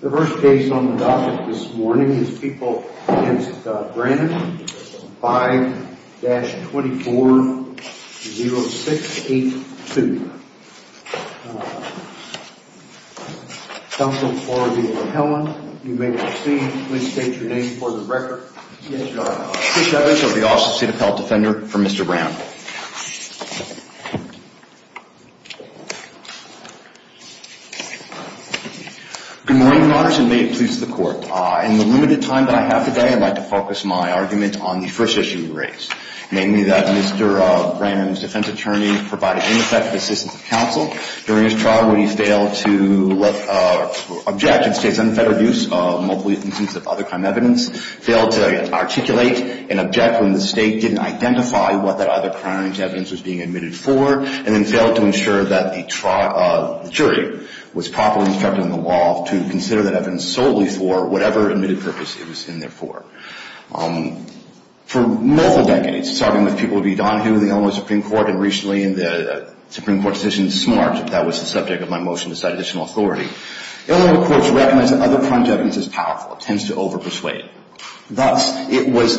The first case on the docket this morning is people against Branham, 5-240682. Counsel for the appellant, you may proceed. Please state your name for the record. Yes, Your Honor. Chris Evans of the Office of the State Appellant Defender for Mr. Branham. Good morning, Your Honors, and may it please the Court. In the limited time that I have today, I'd like to focus my argument on the first issue you raised. Namely that Mr. Branham's defense attorney provided ineffective assistance to counsel during his trial when he failed to object to the State's unfettered use of multiple instances of other crime evidence, failed to articulate and object when the State didn't identify what that other crime's evidence was being admitted for, and then failed to ensure that the jury was properly instructed in the law to consider that evidence solely for whatever admitted purpose it was in there for. For multiple decades, starting with people of E. Donohue in the Illinois Supreme Court and recently in the Supreme Court decision this March, if that was the subject of my motion to cite additional authority, Illinois courts recognize that other crime's evidence is powerful. It tends to over-persuade. Thus, it was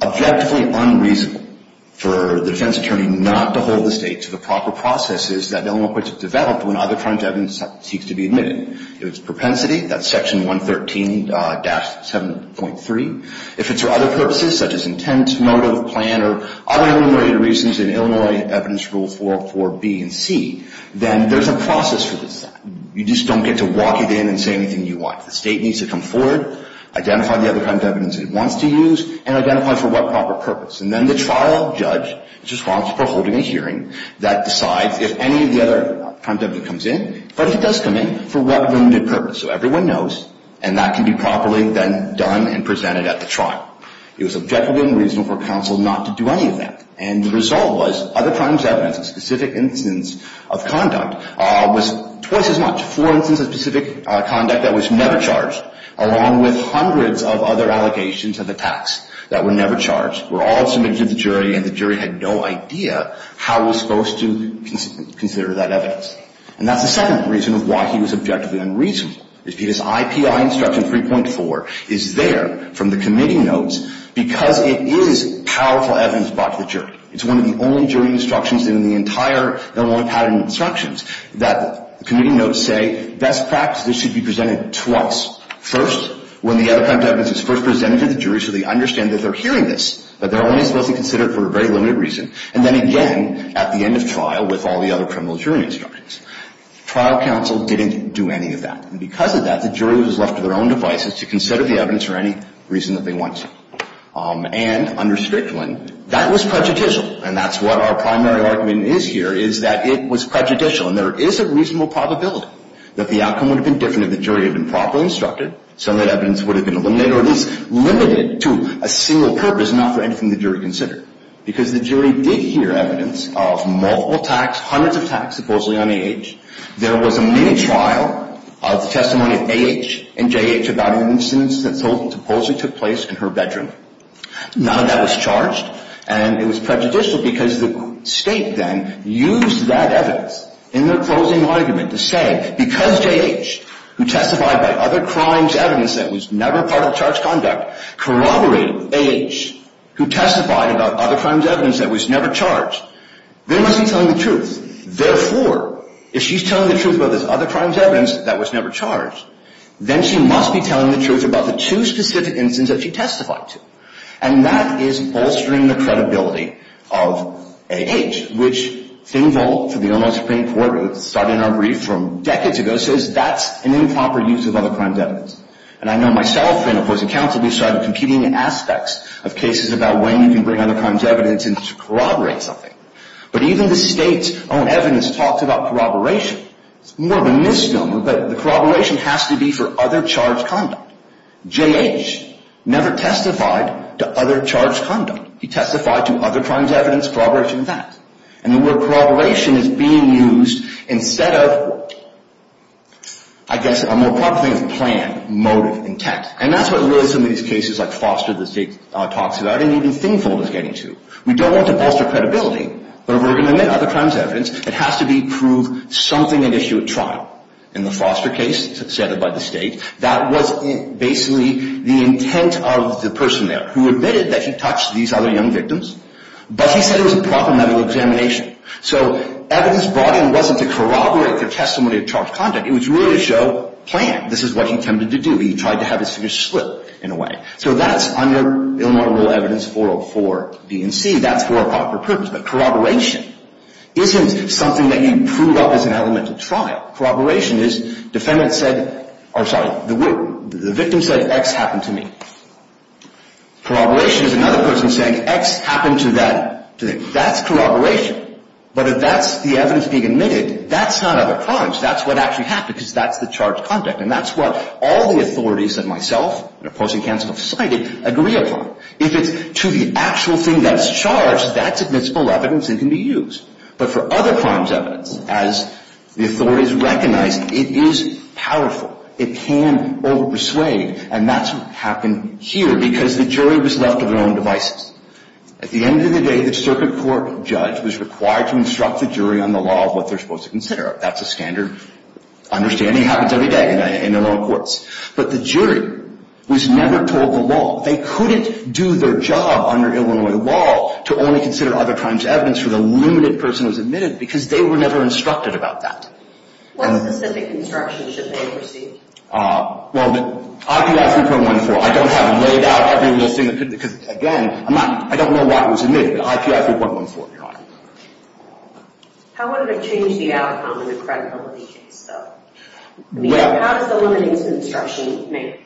objectively unreasonable for the defense attorney not to hold the State to the proper processes that Illinois courts have developed when other crime's evidence seeks to be admitted. If it's propensity, that's Section 113-7.3. If it's for other purposes, such as intent, motive, plan, or other illuminated reasons in Illinois Evidence Rules 404B and C, then there's a process for this. You just don't get to walk it in and say anything you want. The State needs to come forward, identify the other crime's evidence it wants to use, and identify for what proper purpose. And then the trial judge just wants to hold a hearing that decides if any of the other crime's evidence comes in, but if it does come in, for what limited purpose. So everyone knows, and that can be properly then done and presented at the trial. It was objectively unreasonable for counsel not to do any of that. And the result was other crime's evidence, a specific instance of conduct, was twice as much. For instance, a specific conduct that was never charged, along with hundreds of other allegations of attacks that were never charged, were all submitted to the jury, and the jury had no idea how it was supposed to consider that evidence. And that's the second reason of why he was objectively unreasonable, is because IPI Instruction 3.4 is there from the committee notes because it is powerful evidence brought to the jury. It's one of the only jury instructions in the entire Illinois pattern of instructions that the committee notes say, best practice, this should be presented twice. First, when the other crime's evidence is first presented to the jury so they understand that they're hearing this, but they're only supposed to consider it for a very limited reason. And then again, at the end of trial, with all the other criminal jury instructions. Trial counsel didn't do any of that. And because of that, the jury was left to their own devices to consider the evidence for any reason that they wanted. And under Strickland, that was prejudicial. And that's what our primary argument is here, is that it was prejudicial. And there is a reasonable probability that the outcome would have been different if the jury had been properly instructed, so that evidence would have been eliminated or at least limited to a single purpose, not for anything the jury considered. Because the jury did hear evidence of multiple attacks, hundreds of attacks, supposedly on A.H. There was a mini-trial of the testimony of A.H. and J.H. about an incident that supposedly took place in her bedroom. None of that was charged, and it was prejudicial because the state then used that evidence in their closing argument to say, because J.H., who testified by other crimes' evidence that was never part of charged conduct, corroborated with A.H., who testified about other crimes' evidence that was never charged, they must be telling the truth. Therefore, if she's telling the truth about this other crimes' evidence that was never charged, then she must be telling the truth about the two specific incidents that she testified to. And that is bolstering the credibility of A.H., which Finvold, for the Illinois Supreme Court, started in our brief from decades ago, says that's an improper use of other crimes' evidence. And I know myself and opposing counsel, we've started competing in aspects of cases about when you can bring other crimes' evidence in to corroborate something. But even the state's own evidence talks about corroboration. It's more of a misnomer, but the corroboration has to be for other charged conduct. J.H. never testified to other charged conduct. He testified to other crimes' evidence corroborating that. And the word corroboration is being used instead of, I guess, a more proper thing than plan, motive, intent. And that's what really some of these cases like Foster, the state talks about, and even Finvold is getting to. We don't want to bolster credibility, but if we're going to admit other crimes' evidence, it has to prove something at issue at trial. In the Foster case, set up by the state, that was basically the intent of the person there, who admitted that he touched these other young victims, but he said it was a proper medical examination. So evidence brought in wasn't to corroborate the testimony of charged conduct. It was really to show plan. This is what he attempted to do. He tried to have his fingers split, in a way. So that's under Illinois Rule Evidence 404 B and C. That's for a proper purpose. But corroboration isn't something that you prove up as an elemental trial. Corroboration is the victim said X happened to me. Corroboration is another person saying X happened to that. That's corroboration. But if that's the evidence being admitted, that's not other crimes. That's what actually happened, because that's the charged conduct. And that's what all the authorities that myself, in opposing counsel, have cited, agree upon. If it's to the actual thing that's charged, that's admissible evidence and can be used. But for other crimes evidence, as the authorities recognized, it is powerful. It can overpersuade. And that's what happened here, because the jury was left with their own devices. At the end of the day, the circuit court judge was required to instruct the jury on the law of what they're supposed to consider. That's a standard understanding. It happens every day in Illinois courts. But the jury was never told the law. They couldn't do their job under Illinois law to only consider other crimes evidence for the limited person who was admitted, because they were never instructed about that. What specific instruction should they have received? Well, the IPI 3.14. I don't have it laid out. Because, again, I don't know why it was admitted. IPI 3.14, Your Honor. How would it have changed the outcome in the credibility case, though? How does the limited instruction make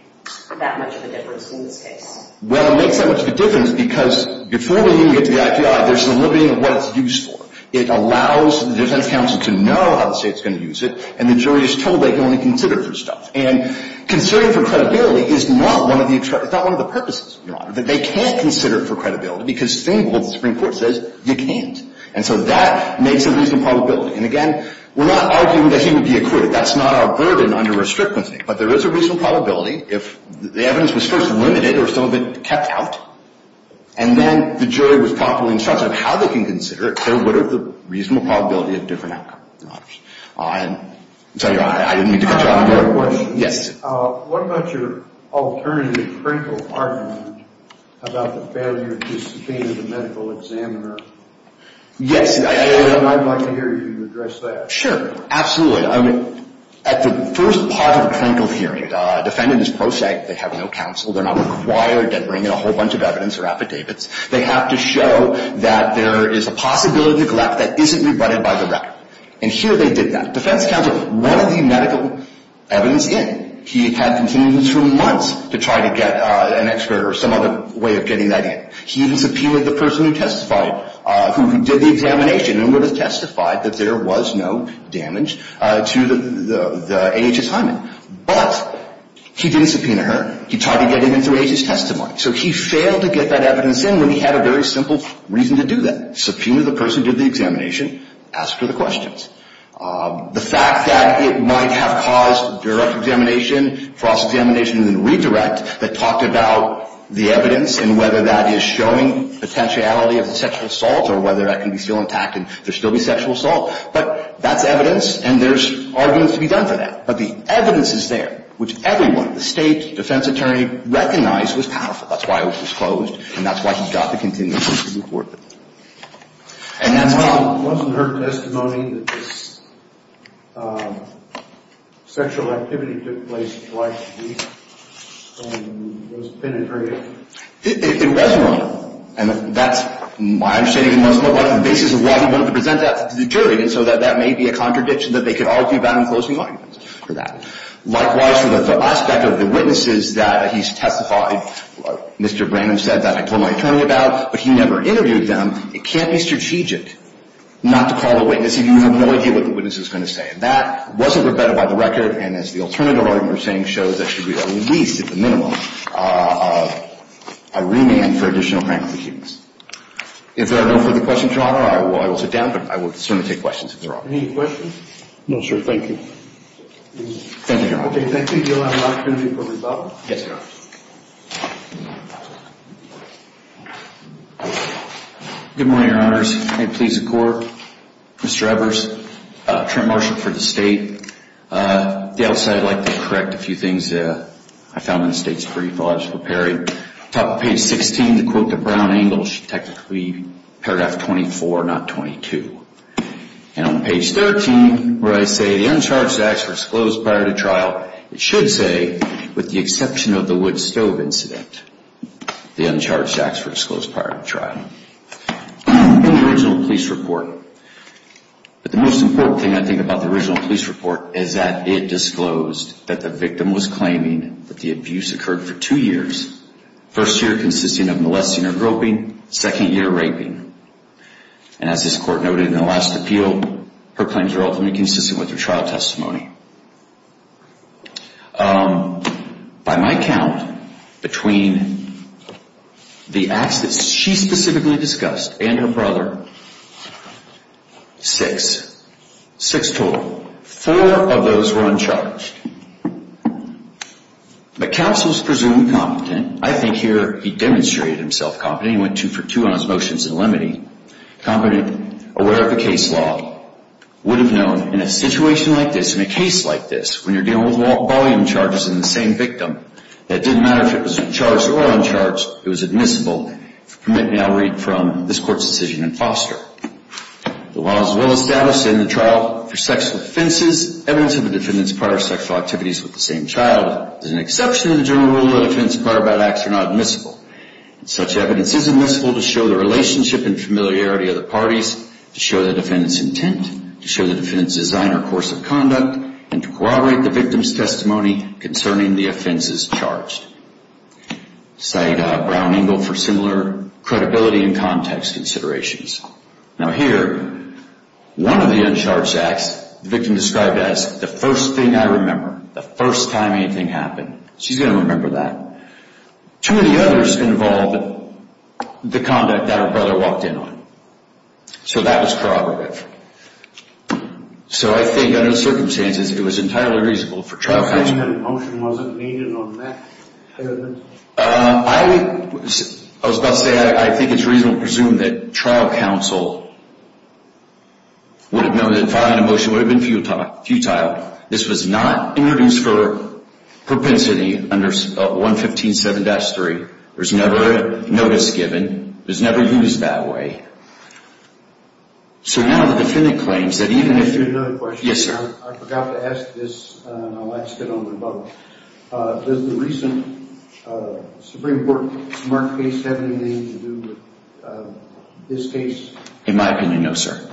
that much of a difference in this case? Well, it makes that much of a difference because before we even get to the IPI, there's the limiting of what it's used for. It allows the defense counsel to know how the state's going to use it. And the jury is told they can only consider it for stuff. And considering for credibility is not one of the purposes, Your Honor. They can't consider it for credibility, because Stengel, the Supreme Court, says you can't. And so that makes a reasonable probability. And, again, we're not arguing that he would be acquitted. That's not our burden under restriction. But there is a reasonable probability. If the evidence was first limited or some of it kept out, and then the jury was promptly instructed on how they can consider it, there would have been a reasonable probability of different outcomes. And so, Your Honor, I didn't mean to cut you off there. I have one more question. Yes. What about your alternative critical argument about the failure to subpoena the medical examiner? Yes. And I'd like to hear you address that. Sure. Absolutely. At the first part of the clinical hearing, defendant is prosaic. They have no counsel. They're not required to bring in a whole bunch of evidence or affidavits. They have to show that there is a possibility of neglect that isn't rebutted by the record. And here they did that. Defense counsel wanted the medical evidence in. He had continued this for months to try to get an expert or some other way of getting that in. He even subpoenaed the person who testified, who did the examination and would have testified that there was no damage to the AHS hymen. But he didn't subpoena her. He tried to get it in through AHS testimony. So he failed to get that evidence in when he had a very simple reason to do that, subpoenaed the person who did the examination, asked her the questions. The fact that it might have caused direct examination, cross-examination, and redirect that talked about the evidence and whether that is showing potentiality of sexual assault or whether that can be still intact and there still be sexual assault. But that's evidence, and there's arguments to be done for that. But the evidence is there, which everyone, the State, defense attorney, recognized was powerful. That's why it was disclosed, and that's why he got the continuity report. And that's why. Wasn't her testimony that this sexual activity took place twice a week and was penetrative? It was wrong, and that's my understanding. It was the basis of why he wanted to present that to the jury so that that may be a contradiction that they could argue about in closing arguments for that. Likewise, the aspect of the witnesses that he's testified, Mr. Brannon said that I told my attorney about, but he never interviewed them. It can't be strategic not to call a witness if you have no idea what the witness is going to say. And that wasn't rebutted by the record. And as the alternative argument we're saying shows, that should be at least at the minimum a remand for additional criminal accusements. If there are no further questions, Your Honor, I will sit down, but I will certainly take questions if there are. Any questions? No, sir. Thank you. Thank you, Your Honor. Okay. Thank you. Do you have an opportunity for rebuttal? Yes, Your Honor. Good morning, Your Honors. May it please the Court. Mr. Evers, Trent Marshall for the State. At the outset, I'd like to correct a few things that I found in the State's brief. I'll just prepare it. Top of page 16, the quote that Brown angles should technically be paragraph 24, not 22. And on page 13, where I say, the uncharged acts were disclosed prior to trial, it should say, with the exception of the wood stove incident, the uncharged acts were disclosed prior to trial. In the original police report, the most important thing I think about the original police report is that it disclosed that the victim was claiming that the abuse occurred for two years, first year consisting of molesting or groping, second year raping. And as this Court noted in the last appeal, her claims are ultimately consistent with her trial testimony. By my count, between the acts that she specifically discussed and her brother, six. Six total. Four of those were uncharged. The counsel is presumably competent. I think here he demonstrated himself competent. He went two for two on his motions in limine. Competent, aware of the case law. Would have known in a situation like this, in a case like this, when you're dealing with volume charges in the same victim, that it didn't matter if it was charged or uncharged, it was admissible. And I'll read from this Court's decision in Foster. The laws as well as status in the trial for sexual offenses, evidence of a defendant's prior sexual activities with the same child, is an exception to the general rule that a defendant's prior bad acts are not admissible. Such evidence is admissible to show the relationship and familiarity of the parties, to show the defendant's intent, to show the defendant's design or course of conduct, and to corroborate the victim's testimony concerning the offenses charged. Cite Brown-Engel for similar credibility and context considerations. Now here, one of the uncharged acts, the victim described as, the first thing I remember, the first time anything happened. She's going to remember that. Two of the others involved the conduct that her brother walked in on. So that was corroborative. So I think under the circumstances, it was entirely reasonable for trial counsel... The motion wasn't made on that? I was about to say, I think it's reasonable to presume that trial counsel would have known that filing a motion would have been futile. This was not introduced for propensity under 115.7-3. There's never a notice given. It was never used that way. So now the defendant claims that even if... Can I ask you another question? Yes, sir. I forgot to ask this, and I'll ask it on the phone. Does the recent Supreme Court case have anything to do with this case? In my opinion, no, sir.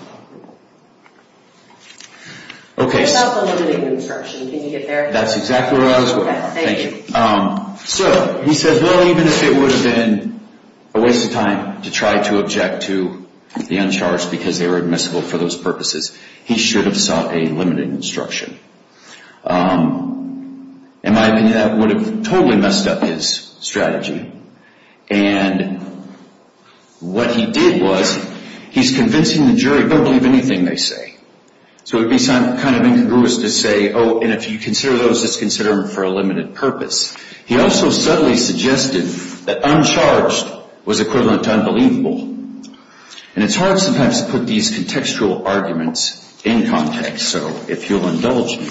What about the limited instruction? Can you get there? That's exactly where I was going. Okay, thank you. So he said, well, even if it would have been a waste of time to try to object to the uncharged because they were admissible for those purposes, he should have sought a limited instruction. In my opinion, that would have totally messed up his strategy. And what he did was he's convincing the jury, don't believe anything they say. So it would be kind of incongruous to say, oh, and if you consider those, just consider them for a limited purpose. He also subtly suggested that uncharged was equivalent to unbelievable. And it's hard sometimes to put these contextual arguments in context, so if you'll indulge me.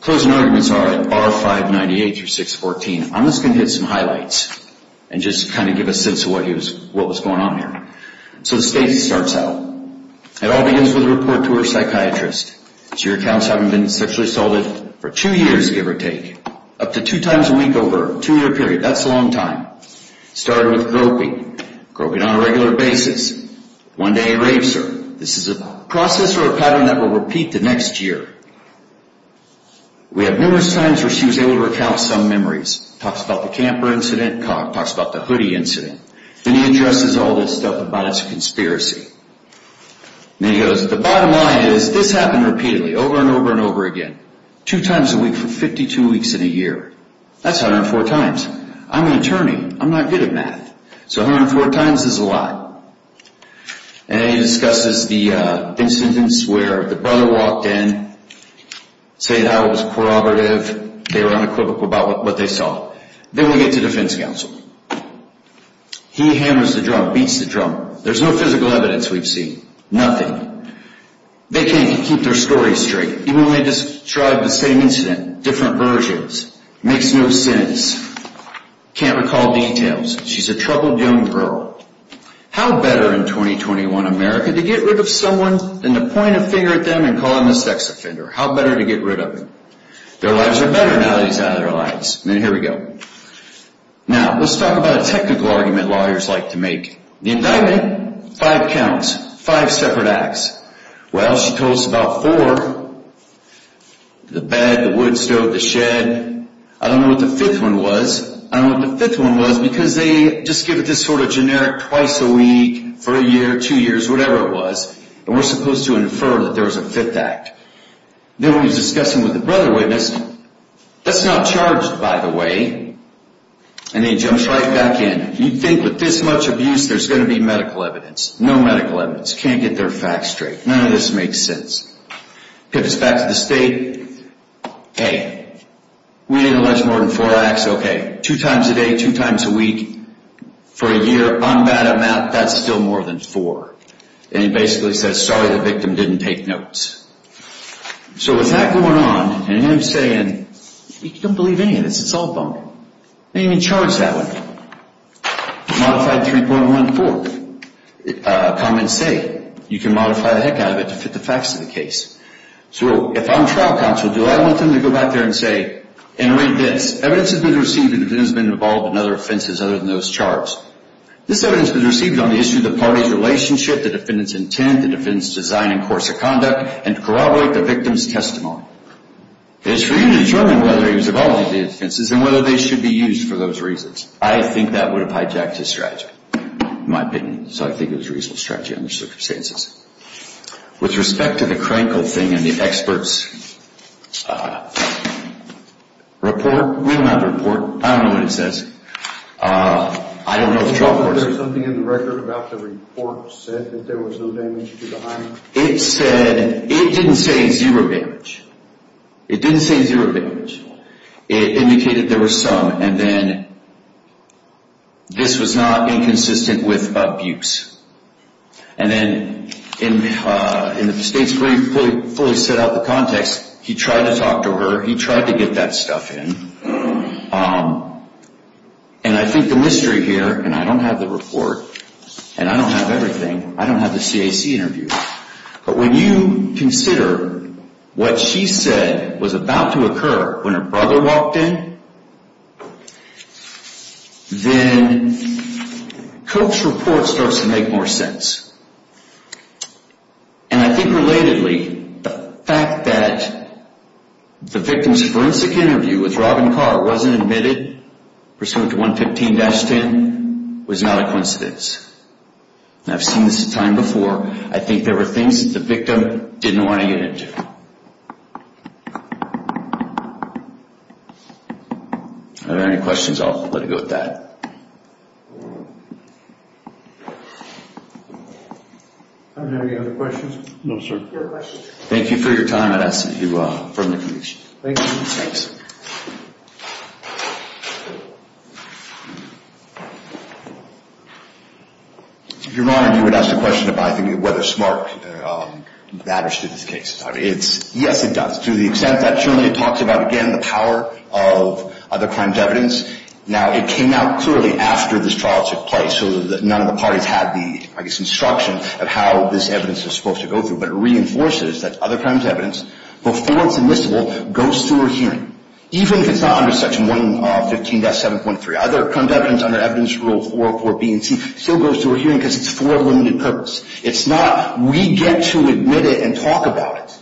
Closing arguments are R-598 through 614. I'm just going to hit some highlights and just kind of give a sense of what was going on here. So the state starts out. It all begins with a report to her psychiatrist. She recounts having been sexually assaulted for two years, give or take, up to two times a week over a two-year period. That's a long time. It started with groping, groping on a regular basis. One day he raves her. This is a process or a pattern that will repeat the next year. We have numerous times where she was able to recount some memories. Talks about the camper incident, talks about the hoodie incident. Then he addresses all this stuff about it's a conspiracy. Then he goes, the bottom line is this happened repeatedly, over and over and over again, two times a week for 52 weeks in a year. That's 104 times. I'm an attorney. I'm not good at math. So 104 times is a lot. And then he discusses the incidents where the brother walked in, said how it was corroborative. They were unequivocal about what they saw. Then we get to defense counsel. He hammers the drum, beats the drum. There's no physical evidence we've seen. Nothing. They can't keep their story straight. Even when they describe the same incident, different versions. Makes no sense. Can't recall details. She's a troubled young girl. How better in 2021 America to get rid of someone than to point a finger at them and call them a sex offender? How better to get rid of them? Their lives are better now that he's out of their lives. Then here we go. Now, let's talk about a technical argument lawyers like to make. The indictment, five counts, five separate acts. Well, she told us about four. The bed, the wood stove, the shed. I don't know what the fifth one was. Because they just give it this sort of generic twice a week for a year, two years, whatever it was. And we're supposed to infer that there was a fifth act. Then we discuss it with the brother witness. That's not charged, by the way. And he jumps right back in. You'd think with this much abuse, there's going to be medical evidence. No medical evidence. Can't get their facts straight. None of this makes sense. Pips back to the state. Hey, we didn't allege more than four acts. Okay, two times a day, two times a week, for a year. On that amount, that's still more than four. And he basically says, sorry, the victim didn't take notes. So with that going on, and him saying, you can't believe any of this. It's all bunk. They didn't even charge that one. Modified 3.14. Comments say you can modify the heck out of it to fit the facts of the case. So if I'm trial counsel, do I want them to go back there and say, and read this, evidence has been received, and the victim has been involved in other offenses other than those charged. This evidence was received on the issue of the party's relationship, the defendant's intent, the defendant's design and course of conduct, and corroborate the victim's testimony. It is for you to determine whether he was involved in the offenses and whether they should be used for those reasons. I think that would have hijacked his strategy, in my opinion. So I think it was a reasonable strategy under the circumstances. With respect to the Krenkel thing and the expert's report, we don't have a report. I don't know what it says. I don't know if the trial court said. Is there something in the record about the report said that there was no damage to the hymen? It said, it didn't say zero damage. It didn't say zero damage. It indicated there were some. And then this was not inconsistent with abuse. And then in the state's brief, fully set out the context, he tried to talk to her. He tried to get that stuff in. And I think the mystery here, and I don't have the report, and I don't have everything. I don't have the CAC interview. But when you consider what she said was about to occur when her brother walked in, then Koch's report starts to make more sense. And I think relatedly, the fact that the victim's forensic interview with Robin Carr wasn't admitted, pursuant to 115-10, was not a coincidence. And I've seen this a time before. I think there were things that the victim didn't want to get into. Are there any questions? I'll let it go at that. Are there any other questions? No, sir. Thank you for your time. I'd ask that you affirm the conclusion. Thank you. Thanks. Your Honor, you would ask a question about whether SMARC matters to this case. Yes, it does. To the extent that, surely, it talks about, again, the power of other crimes evidence. Now, it came out clearly after this trial took place, so that none of the parties had the, I guess, instruction of how this evidence was supposed to go through. But it reinforces that other crimes evidence, before it's admissible, goes through a hearing, even if it's not under Section 115-7.3. Other crimes evidence under Evidence Rule 404B and C still goes through a hearing because it's for a limited purpose. It's not we get to admit it and talk about it,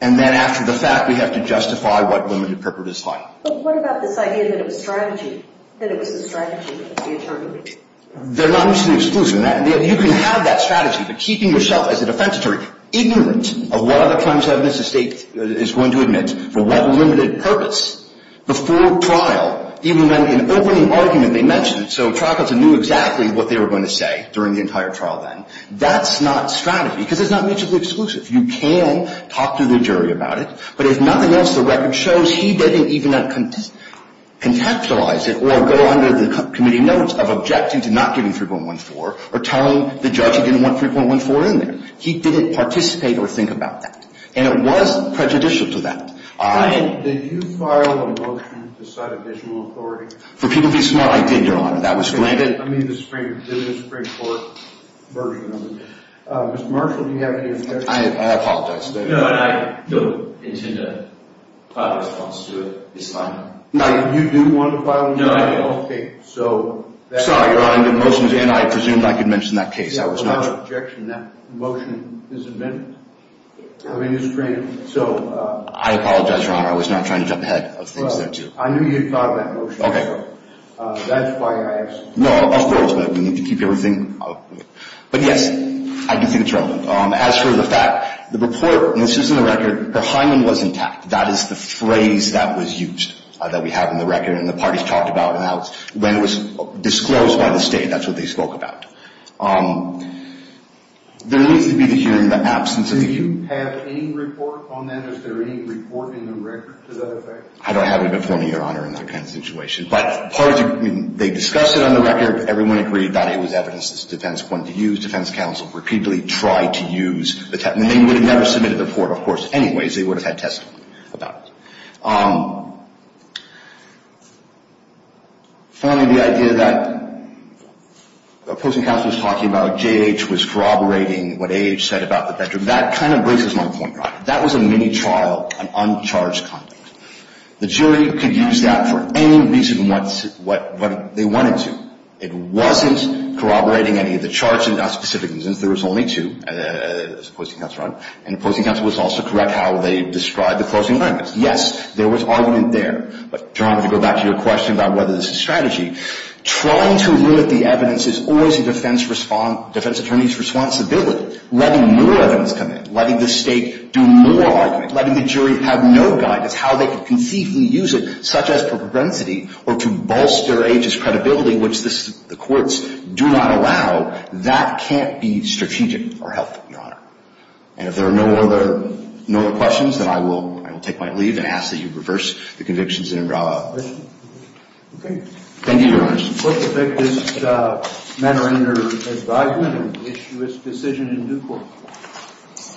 and then, after the fact, we have to justify what limited purpose is like. But what about this idea that it was strategy, that it was the strategy of the attorney? They're not mutually exclusive in that. You can have that strategy, but keeping yourself, as a defense attorney, ignorant of what other crimes evidence the State is going to admit for what limited purpose, before trial, even when in opening argument they mentioned it, so trial counsel knew exactly what they were going to say during the entire trial then, that's not strategy because it's not mutually exclusive. You can talk to the jury about it. But if nothing else, the record shows he didn't even contextualize it or go under the committee notes of objecting to not giving 3.14 or telling the judge he didn't want 3.14 in there. He didn't participate or think about that. And it was prejudicial to that. I had... Did you file a motion to cite additional authority? For people to be smart, I did, Your Honor. That was granted. I mean the Supreme Court version of it. Mr. Marshall, do you have any objections? I apologize. No, I don't intend to file a response to it. It's fine. You do want to file a motion? No, I don't. Okay, so... Sorry, Your Honor. I presumed I could mention that case. That was not an objection. That motion is admitted. I mean it's granted. So... I apologize, Your Honor. I was not trying to jump ahead of things there, too. I knew you had thought of that motion. Okay. That's why I asked. No, of course, but we need to keep everything... But yes, I do think it's relevant. As for the fact, the report, and this is in the record, her hymen was intact. That is the phrase that was used that we have in the record and the parties talked about when it was disclosed by the state. That's what they spoke about. There needs to be the hearing in the absence of the... Do you have any report on that? Is there any report in the record to that effect? I don't have it before me, Your Honor, in that kind of situation. But part of the... They discussed it on the record. Everyone agreed that it was evidence that the defense wanted to use. Defense counsel repeatedly tried to use the testimony. They would have never submitted the report, of course, anyways. They would have had testimony about it. Finally, the idea that opposing counsel was talking about J.H. was corroborating what A.H. said about the bedroom. That kind of breaks my point, Your Honor. That was a mini-trial, an uncharged conduct. The jury could use that for any reason they wanted to. It wasn't corroborating any of the charges, not specifically, since there was only two opposing counsel on it. And opposing counsel was also correct how they described the closing arguments. Yes, there was argument there. But, Your Honor, to go back to your question about whether this is strategy, trying to limit the evidence is always a defense attorney's responsibility. Letting more evidence come in, letting the state do more argument, letting the jury have no guidance how they can conceivably use it, such as for propensity or to bolster A.H.'s credibility, which the courts do not allow, that can't be strategic or helpful, Your Honor. And if there are no other questions, then I will take my leave and ask that you reverse the convictions and draw a decision. Thank you, Your Honors. Let's take this matter under advisement and issue its decision in due course.